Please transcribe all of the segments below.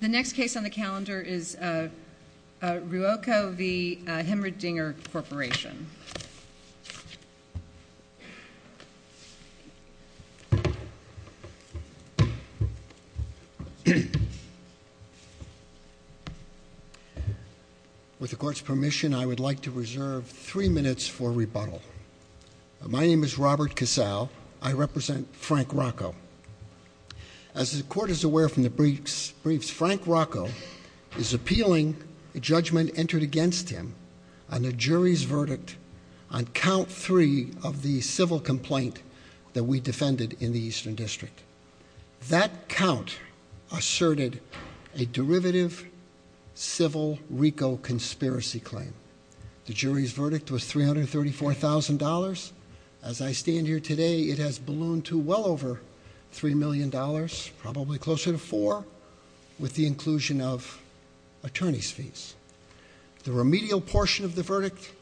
The next case on the calendar is Ruocco v. Hemmerdinger Corporation. With the court's permission, I would like to reserve three minutes for rebuttal. My name is Robert Casale. I represent Frank Rocco. As the court is aware from the briefs, Frank Rocco is appealing a judgment entered against him on the jury's verdict on count three of the civil complaint that we defended in the Eastern District. That count asserted a derivative civil RICO conspiracy claim. The jury's verdict was $334,000. As I stand here today, it has ballooned to well over $3 million, probably closer to four, with the inclusion of attorney's fees. The remedial portion of the verdict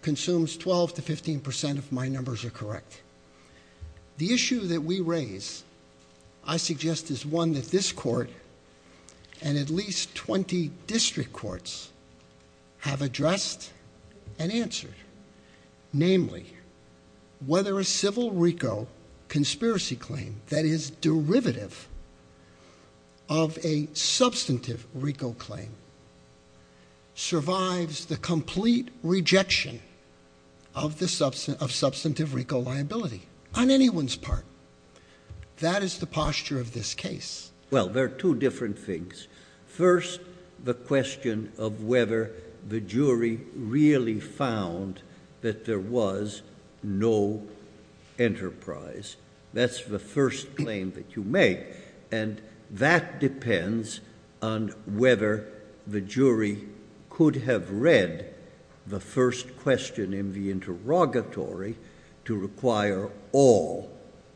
consumes 12 to 15% of my numbers are correct. The issue that we raise, I suggest, is one that this court and at least 20 district courts have addressed and answered. Namely, whether a civil RICO conspiracy claim that is derivative of a substantive RICO claim survives the complete rejection of substantive RICO liability on anyone's part. That is the posture of this case. Well, there are two different things. First, the question of whether the jury really found that there was no enterprise. That's the first claim that you make. And that depends on whether the jury could have read the first question in the interrogatory to require all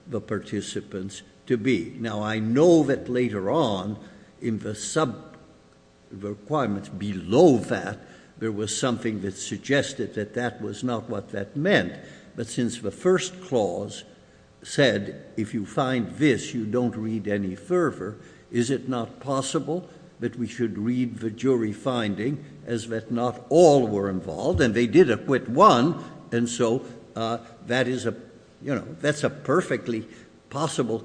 the participants to be. Now I know that later on in the sub requirements below that, there was something that suggested that that was not what that meant. But since the first clause said, if you find this, you don't read any further. Is it not possible that we should read the jury finding as that not all were involved? And they did acquit one. And so that's a perfectly possible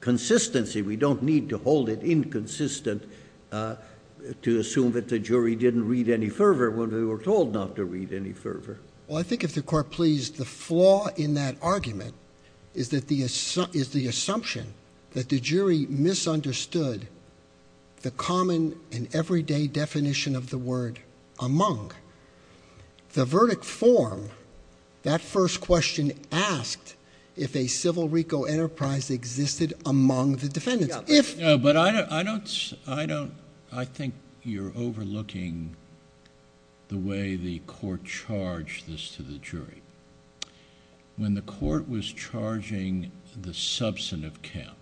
consistency. We don't need to hold it inconsistent to assume that the jury didn't read any further when they were told not to read any further. Well, I think if the court please, the flaw in that argument is the assumption that the jury misunderstood the common and everyday definition of the word among. The verdict form, that first question asked if a civil RICO enterprise existed among the defendants. But I don't, I think you're overlooking the way the court charged this to the jury. When the court was charging the substantive count,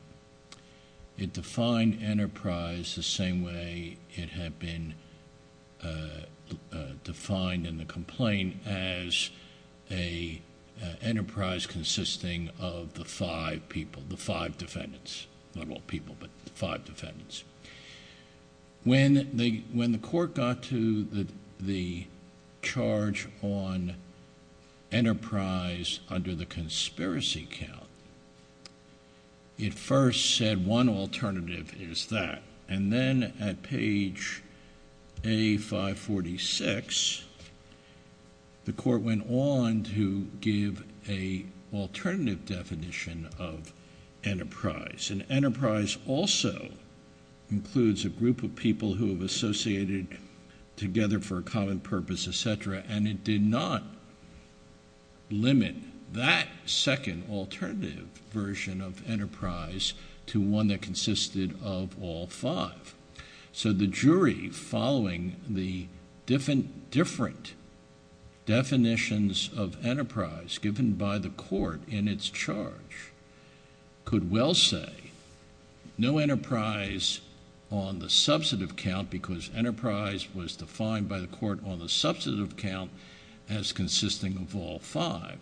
it defined enterprise the same way it had been defined in the complaint as a enterprise consisting of the five people, the five defendants. Not all people, but the five defendants. When the court got to the charge on enterprise under the conspiracy count, it first said one alternative is that. And then at page A546, the court went on to give a alternative definition of enterprise. And enterprise also includes a group of people who have associated together for a common purpose, etc. And it did not limit that second alternative version of enterprise to one that consisted of all five. So the jury following the different definitions of enterprise given by the court in its charge, could well say no enterprise on the substantive count, because enterprise was defined by the court on the substantive count as consisting of all five.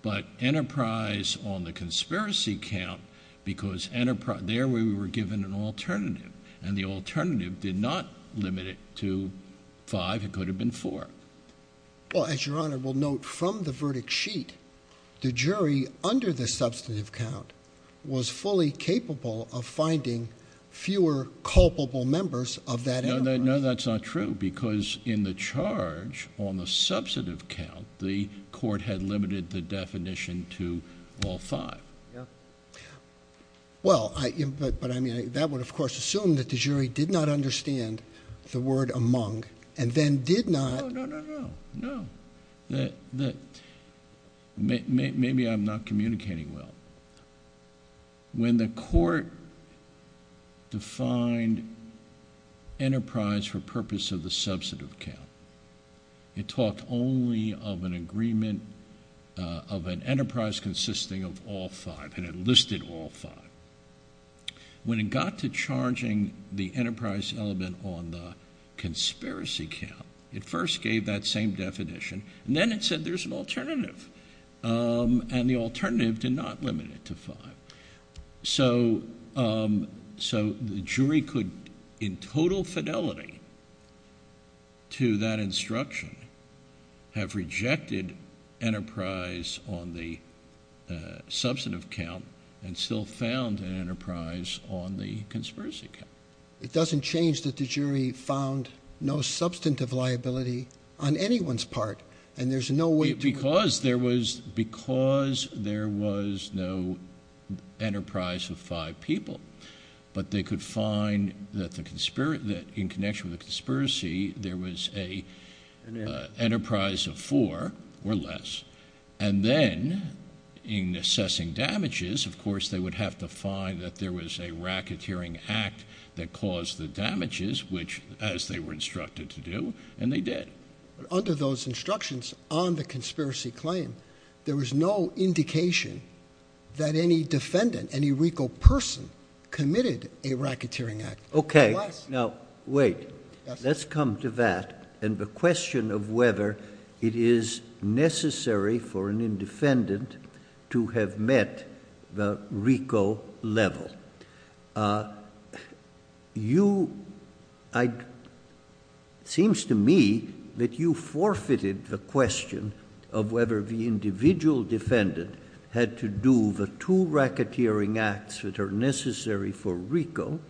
But enterprise on the conspiracy count, because there we were given an alternative. And the alternative did not limit it to five, it could have been four. Well, as your honor will note from the verdict sheet, the jury under the substantive count was fully capable of finding fewer culpable members of that enterprise. No, that's not true, because in the charge on the substantive count, the court had limited the definition to all five. Well, but I mean, that would of course assume that the jury did not understand the word among, and then did not- No, no, no, no, no. Maybe I'm not communicating well. When the court defined enterprise for purpose of the substantive count, it talked only of an agreement of an enterprise consisting of all five, and it listed all five. When it got to charging the enterprise element on the conspiracy count, it first gave that same definition, and then it said there's an alternative. And the alternative did not limit it to five. So the jury could, in total fidelity to that instruction, have rejected enterprise on the substantive count, and still found an enterprise on the conspiracy count. It doesn't change that the jury found no substantive liability on anyone's part, and there's no way to- Because there was no enterprise of five people. But they could find that in connection with the conspiracy, there was an enterprise of four or less. And then, in assessing damages, of course, they would have to find that there was a racketeering act that caused the damages, which, as they were instructed to do, and they did. Under those instructions on the conspiracy claim, there was no indication that any defendant, any RICO person, committed a racketeering act. Okay. Now, wait. Let's come to that, and the question of whether it is necessary for an indefendant to have met the RICO level. Now, you, it seems to me that you forfeited the question of whether the individual defendant had to do the two racketeering acts that are necessary for RICO,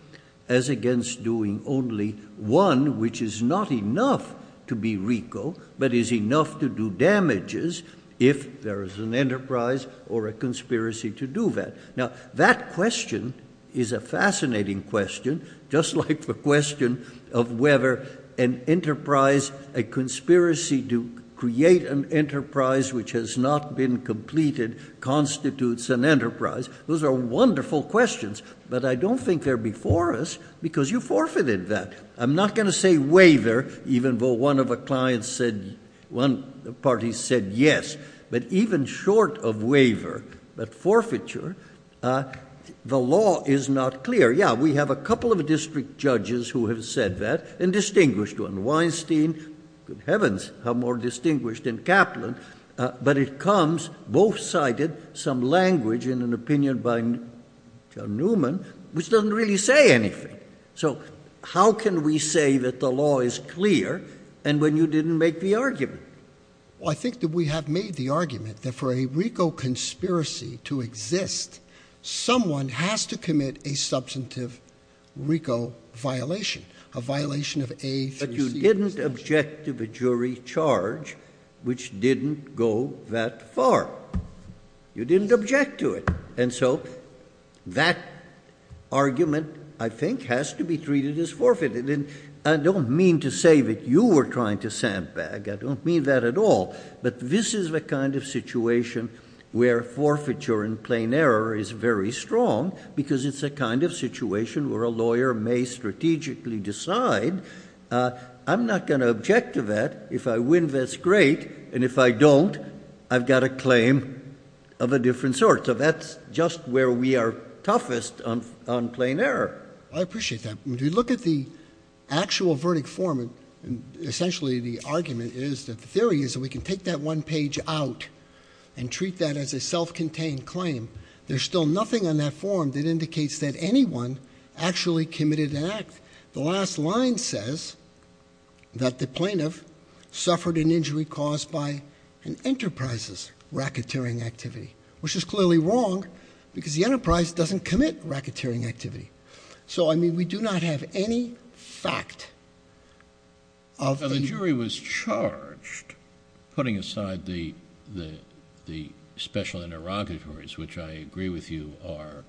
as against doing only one which is not enough to be RICO, but is enough to do damages if there is an enterprise or a conspiracy to do that. Now, that question is a fascinating question, just like the question of whether an enterprise, a conspiracy to create an enterprise which has not been completed constitutes an enterprise. Those are wonderful questions, but I don't think they're before us because you forfeited that. I'm not going to say waiver, even though one of the parties said yes. But even short of waiver, but forfeiture, the law is not clear. Yeah, we have a couple of district judges who have said that, and distinguished one. Weinstein, good heavens, how more distinguished than Kaplan. But it comes, both cited, some language in an opinion by John Newman, which doesn't really say anything. So how can we say that the law is clear, and when you didn't make the argument? Well, I think that we have made the argument that for a RICO conspiracy to exist, someone has to commit a substantive RICO violation, a violation of a- But you didn't object to the jury charge, which didn't go that far. You didn't object to it. And so that argument, I think, has to be treated as forfeited. I don't mean to say that you were trying to sandbag. I don't mean that at all. But this is the kind of situation where forfeiture in plain error is very strong, because it's the kind of situation where a lawyer may strategically decide. I'm not going to object to that. If I win, that's great. And if I don't, I've got a claim of a different sort. So that's just where we are toughest on plain error. I appreciate that. If you look at the actual verdict form, essentially the argument is that the theory is that we can take that one page out and treat that as a self-contained claim. There's still nothing on that form that indicates that anyone actually committed an act. The last line says that the plaintiff suffered an injury caused by an enterprise's racketeering activity. Which is clearly wrong, because the enterprise doesn't commit racketeering activity. So, I mean, we do not have any fact of the- Now, the jury was charged, putting aside the special interrogatories, which I agree with you are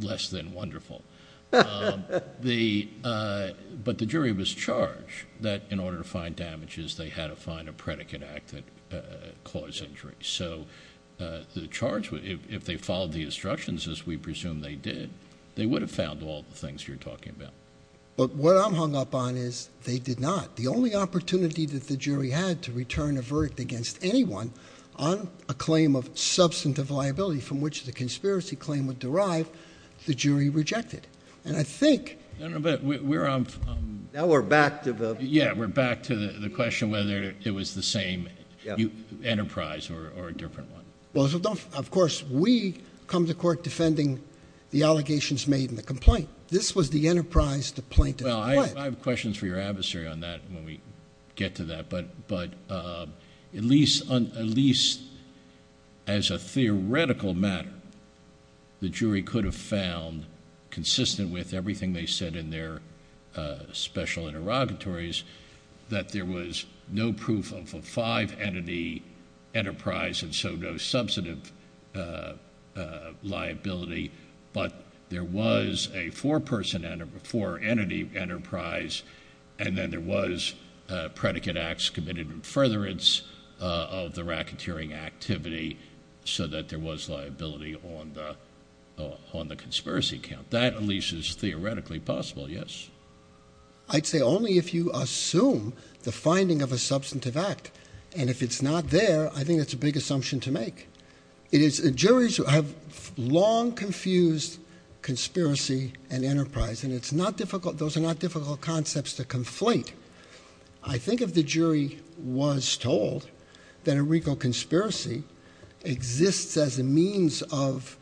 less than wonderful. But the jury was charged that in order to find damages, they had to find a predicate act that caused injury. So the charge, if they followed the instructions as we presume they did, they would have found all the things you're talking about. But what I'm hung up on is they did not. The only opportunity that the jury had to return a verdict against anyone on a claim of substantive liability, from which the conspiracy claim would derive, the jury rejected. And I think- No, no, but we're on- Now we're back to the- Or a different one. Well, of course, we come to court defending the allegations made in the complaint. This was the enterprise the plaintiff fled. Well, I have questions for your adversary on that when we get to that. But at least as a theoretical matter, the jury could have found, consistent with everything they said in their special interrogatories, that there was no proof of a five-entity enterprise and so no substantive liability, but there was a four-entity enterprise, and then there was predicate acts committed in furtherance of the racketeering activity, so that there was liability on the conspiracy count. That at least is theoretically possible, yes. I'd say only if you assume the finding of a substantive act, and if it's not there, I think that's a big assumption to make. It is, juries have long confused conspiracy and enterprise, and those are not difficult concepts to conflate. I think if the jury was told that a RICO conspiracy exists as a means of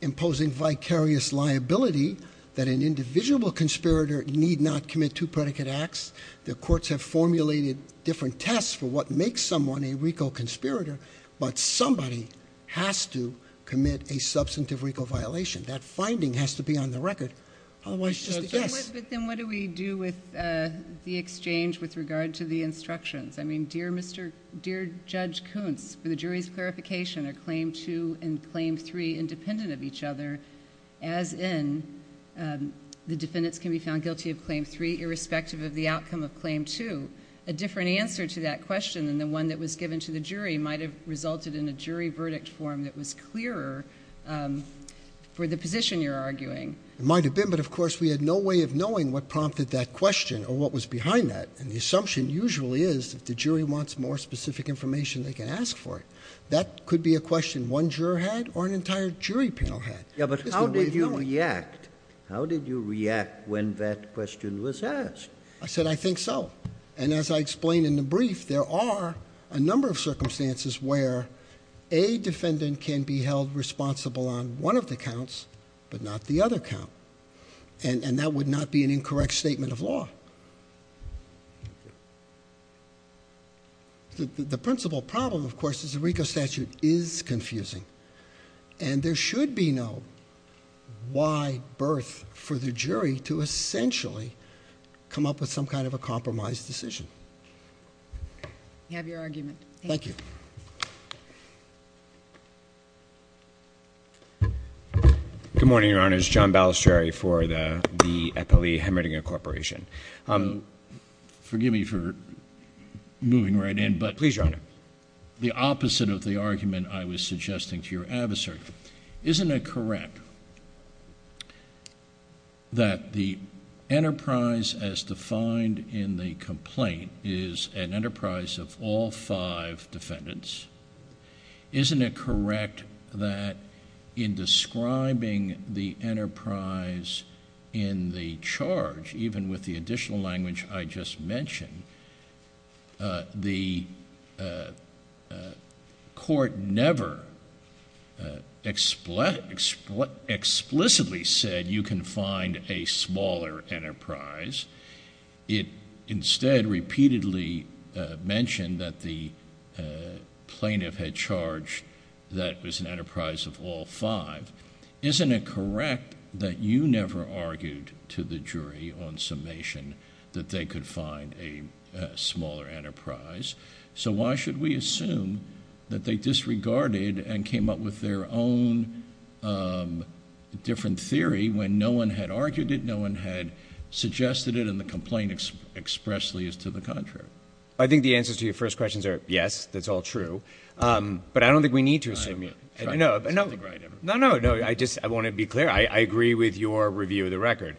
imposing vicarious liability, that an indivisible conspirator need not commit two predicate acts. The courts have formulated different tests for what makes someone a RICO conspirator, but somebody has to commit a substantive RICO violation. That finding has to be on the record. Otherwise, just a yes. But then what do we do with the exchange with regard to the instructions? I mean, dear Judge Koontz, for the jury's clarification, are claim two and claim three independent of each other, as in the defendants can be found guilty of claim three, irrespective of the outcome of claim two? A different answer to that question than the one that was given to the jury might have resulted in a jury verdict form that was clearer for the position you're arguing. It might have been, but of course, we had no way of knowing what prompted that question, or what was behind that. And the assumption usually is, if the jury wants more specific information, they can ask for it. That could be a question one juror had, or an entire jury panel had. It's the way of knowing. How did you react when that question was asked? I said, I think so. And as I explained in the brief, there are a number of circumstances where a defendant can be held responsible on one of the counts, but not the other count. And that would not be an incorrect statement of law. The principal problem, of course, is the RICO statute is confusing. And there should be no why birth for the jury to essentially come up with some kind of a compromise decision. I have your argument. Thank you. Good morning, your honors. John Balistrieri for the Eppley-Hemmerdinger Corporation. Forgive me for moving right in, but- Please, your honor. The opposite of the argument I was suggesting to your adversary. Isn't it correct that the enterprise as defined in the complaint is an enterprise of all five defendants? Isn't it correct that in describing the enterprise in the charge, even with the additional language I just mentioned, the court never explicitly said you can find a smaller enterprise. It instead repeatedly mentioned that the plaintiff had charged that it was an enterprise of all five. Isn't it correct that you never argued to the jury on summation that they could find a smaller enterprise? So why should we assume that they disregarded and came up with their own different theory when no one had argued it, no one had suggested it, and the complaint expressly is to the contrary? I think the answers to your first questions are, yes, that's all true. But I don't think we need to assume- No, no, no, I just want to be clear. I agree with your review of the record.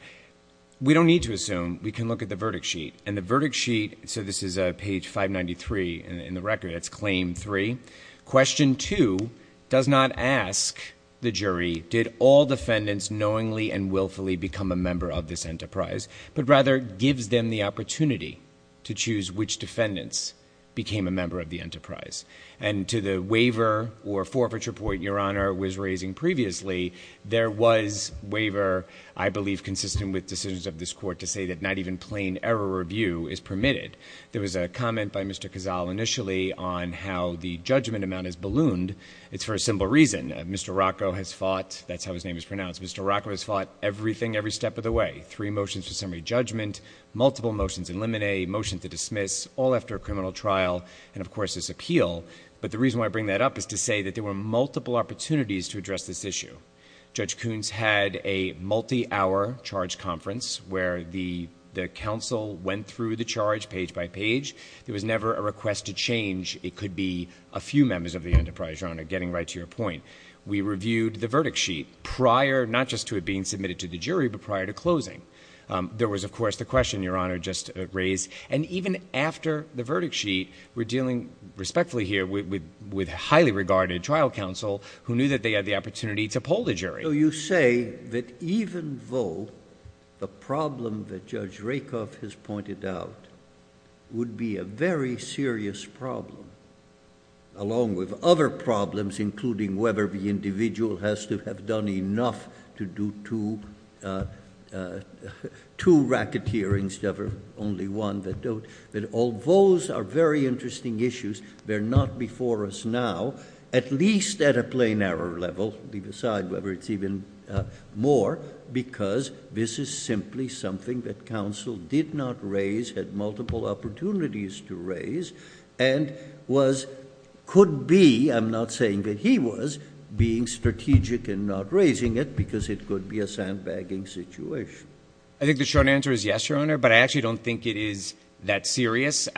We don't need to assume. We can look at the verdict sheet. And the verdict sheet, so this is page 593 in the record, it's claim three. Question two does not ask the jury, did all defendants knowingly and willfully become a member of this enterprise, but rather gives them the opportunity to choose which defendants became a member of the enterprise. And to the waiver or forfeiture point your honor was raising previously, there was waiver I believe consistent with decisions of this court to say that not even plain error review is permitted. There was a comment by Mr. Cazal initially on how the judgment amount is ballooned. It's for a simple reason. Mr. Rocco has fought, that's how his name is pronounced, Mr. Rocco has fought everything every step of the way. Three motions for summary judgment, multiple motions in limine, motion to dismiss, all after a criminal trial, and of course this appeal, but the reason why I bring that up is to say that there were multiple opportunities to address this issue. Judge Coons had a multi-hour charge conference where the counsel went through the charge page by page. There was never a request to change, it could be a few members of the enterprise, your honor, getting right to your point. We reviewed the verdict sheet prior, not just to it being submitted to the jury, but prior to closing. There was of course the question your honor just raised, and even after the verdict sheet, we're dealing respectfully here with highly regarded trial counsel who knew that they had the opportunity to poll the jury. So you say that even though the problem that Judge Rakoff has pointed out would be a very serious problem, along with other problems, including whether the individual has to have done enough to do two racketeering, instead of only one that don't, that all those are very interesting issues. They're not before us now, at least at a plain error level, leave aside whether it's even more, because this is simply something that counsel did not raise, had multiple opportunities to raise. And was, could be, I'm not saying that he was, being strategic and not raising it because it could be a sandbagging situation. I think the short answer is yes, your honor, but I actually don't think it is that serious.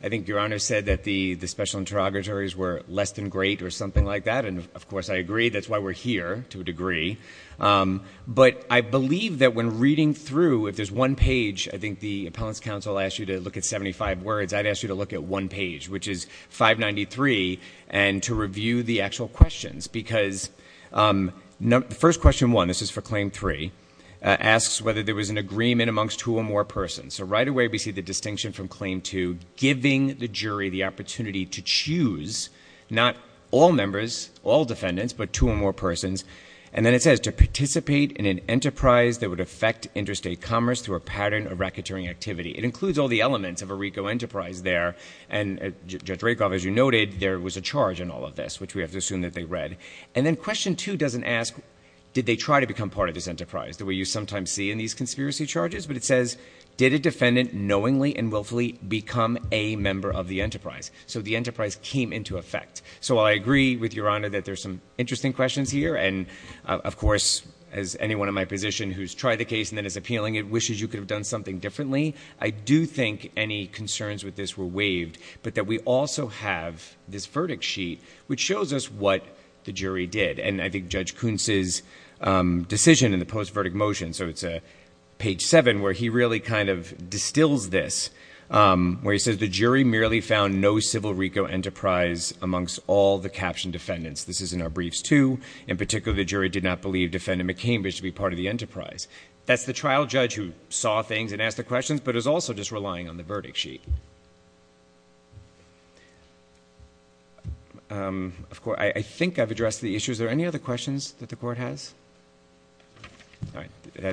I think your honor said that the special interrogatories were less than great or something like that, and of course I agree, that's why we're here to a degree. But I believe that when reading through, if there's one page, I think the appellant's counsel asked you to look at 75 words. I'd ask you to look at one page, which is 593, and to review the actual questions. Because first question one, this is for claim three, asks whether there was an agreement amongst two or more persons. So right away we see the distinction from claim two, giving the jury the opportunity to choose, not all members, all defendants, but two or more persons. And then it says, to participate in an enterprise that would affect interstate commerce through a pattern of racketeering activity. It includes all the elements of a RICO enterprise there. And Judge Rakoff, as you noted, there was a charge in all of this, which we have to assume that they read. And then question two doesn't ask, did they try to become part of this enterprise, the way you sometimes see in these conspiracy charges. But it says, did a defendant knowingly and willfully become a member of the enterprise? So the enterprise came into effect. So I agree with your honor that there's some interesting questions here. And of course, as anyone in my position who's tried the case and then is appealing it wishes you could have done something differently, I do think any concerns with this were waived. But that we also have this verdict sheet, which shows us what the jury did. And I think Judge Kuntz's decision in the post-verdict motion, so it's page seven, where he really kind of distills this. Where he says, the jury merely found no civil RICO enterprise amongst all the captioned defendants. This is in our briefs too. In particular, the jury did not believe Defendant McCambridge to be part of the enterprise. That's the trial judge who saw things and asked the questions, but is also just relying on the verdict sheet. Of course, I think I've addressed the issues. Are there any other questions that the court has? All right,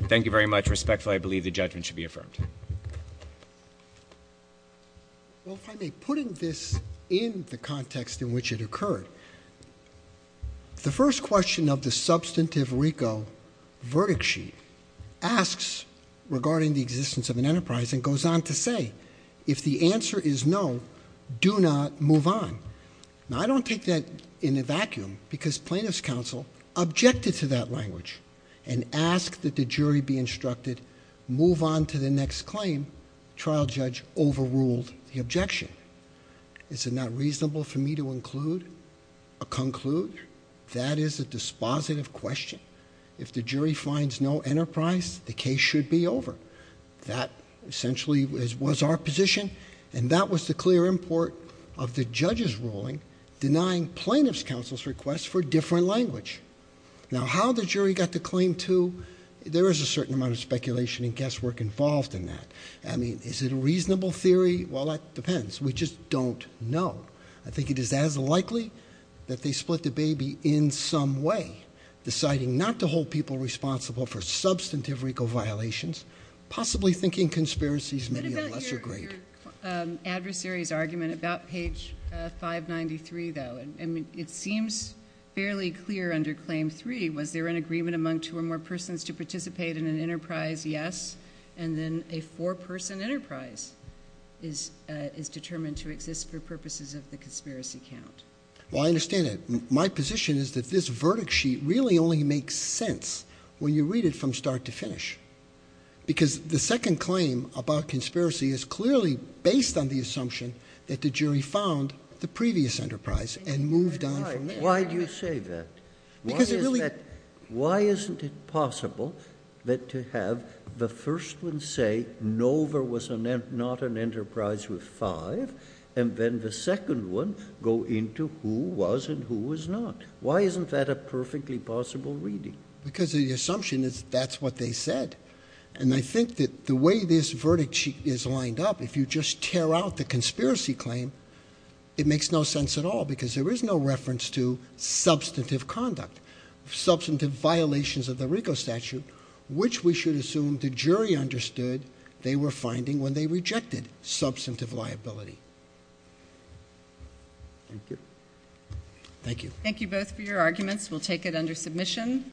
thank you very much. Respectfully, I believe the judgment should be affirmed. Well, if I may put this in the context in which it occurred. The first question of the substantive RICO verdict sheet asks regarding the existence of an enterprise and goes on to say, if the answer is no, do not move on. Now, I don't take that in a vacuum, because plaintiff's counsel objected to that language and asked that the jury be instructed, move on to the next claim. Trial judge overruled the objection. Is it not reasonable for me to include, or conclude, that is a dispositive question. If the jury finds no enterprise, the case should be over. That essentially was our position, and that was the clear import of the judge's ruling, denying plaintiff's counsel's request for different language. Now, how the jury got the claim to, there is a certain amount of speculation and guesswork involved in that. I mean, is it a reasonable theory? Well, that depends. We just don't know. I think it is as likely that they split the baby in some way, deciding not to hold people responsible for substantive RICO violations, possibly thinking conspiracies may be a lesser grade. Your adversary's argument about page 593, though, and it seems fairly clear under claim three, was there an agreement among two or more persons to participate in an enterprise? Yes, and then a four person enterprise is determined to exist for purposes of the conspiracy count. Well, I understand that. My position is that this verdict sheet really only makes sense when you read it from start to finish. Because the second claim about conspiracy is clearly based on the assumption that the jury found the previous enterprise and moved on from there. Why do you say that? Because it really- Why isn't it possible that to have the first one say, no, there was not an enterprise with five, and then the second one go into who was and who was not? Why isn't that a perfectly possible reading? Because the assumption is that's what they said. And I think that the way this verdict sheet is lined up, if you just tear out the conspiracy claim, it makes no sense at all, because there is no reference to substantive conduct, substantive violations of the RICO statute, which we should assume the jury understood they were finding when they rejected substantive liability. Thank you. Thank you. Thank you both for your arguments. We'll take it under submission.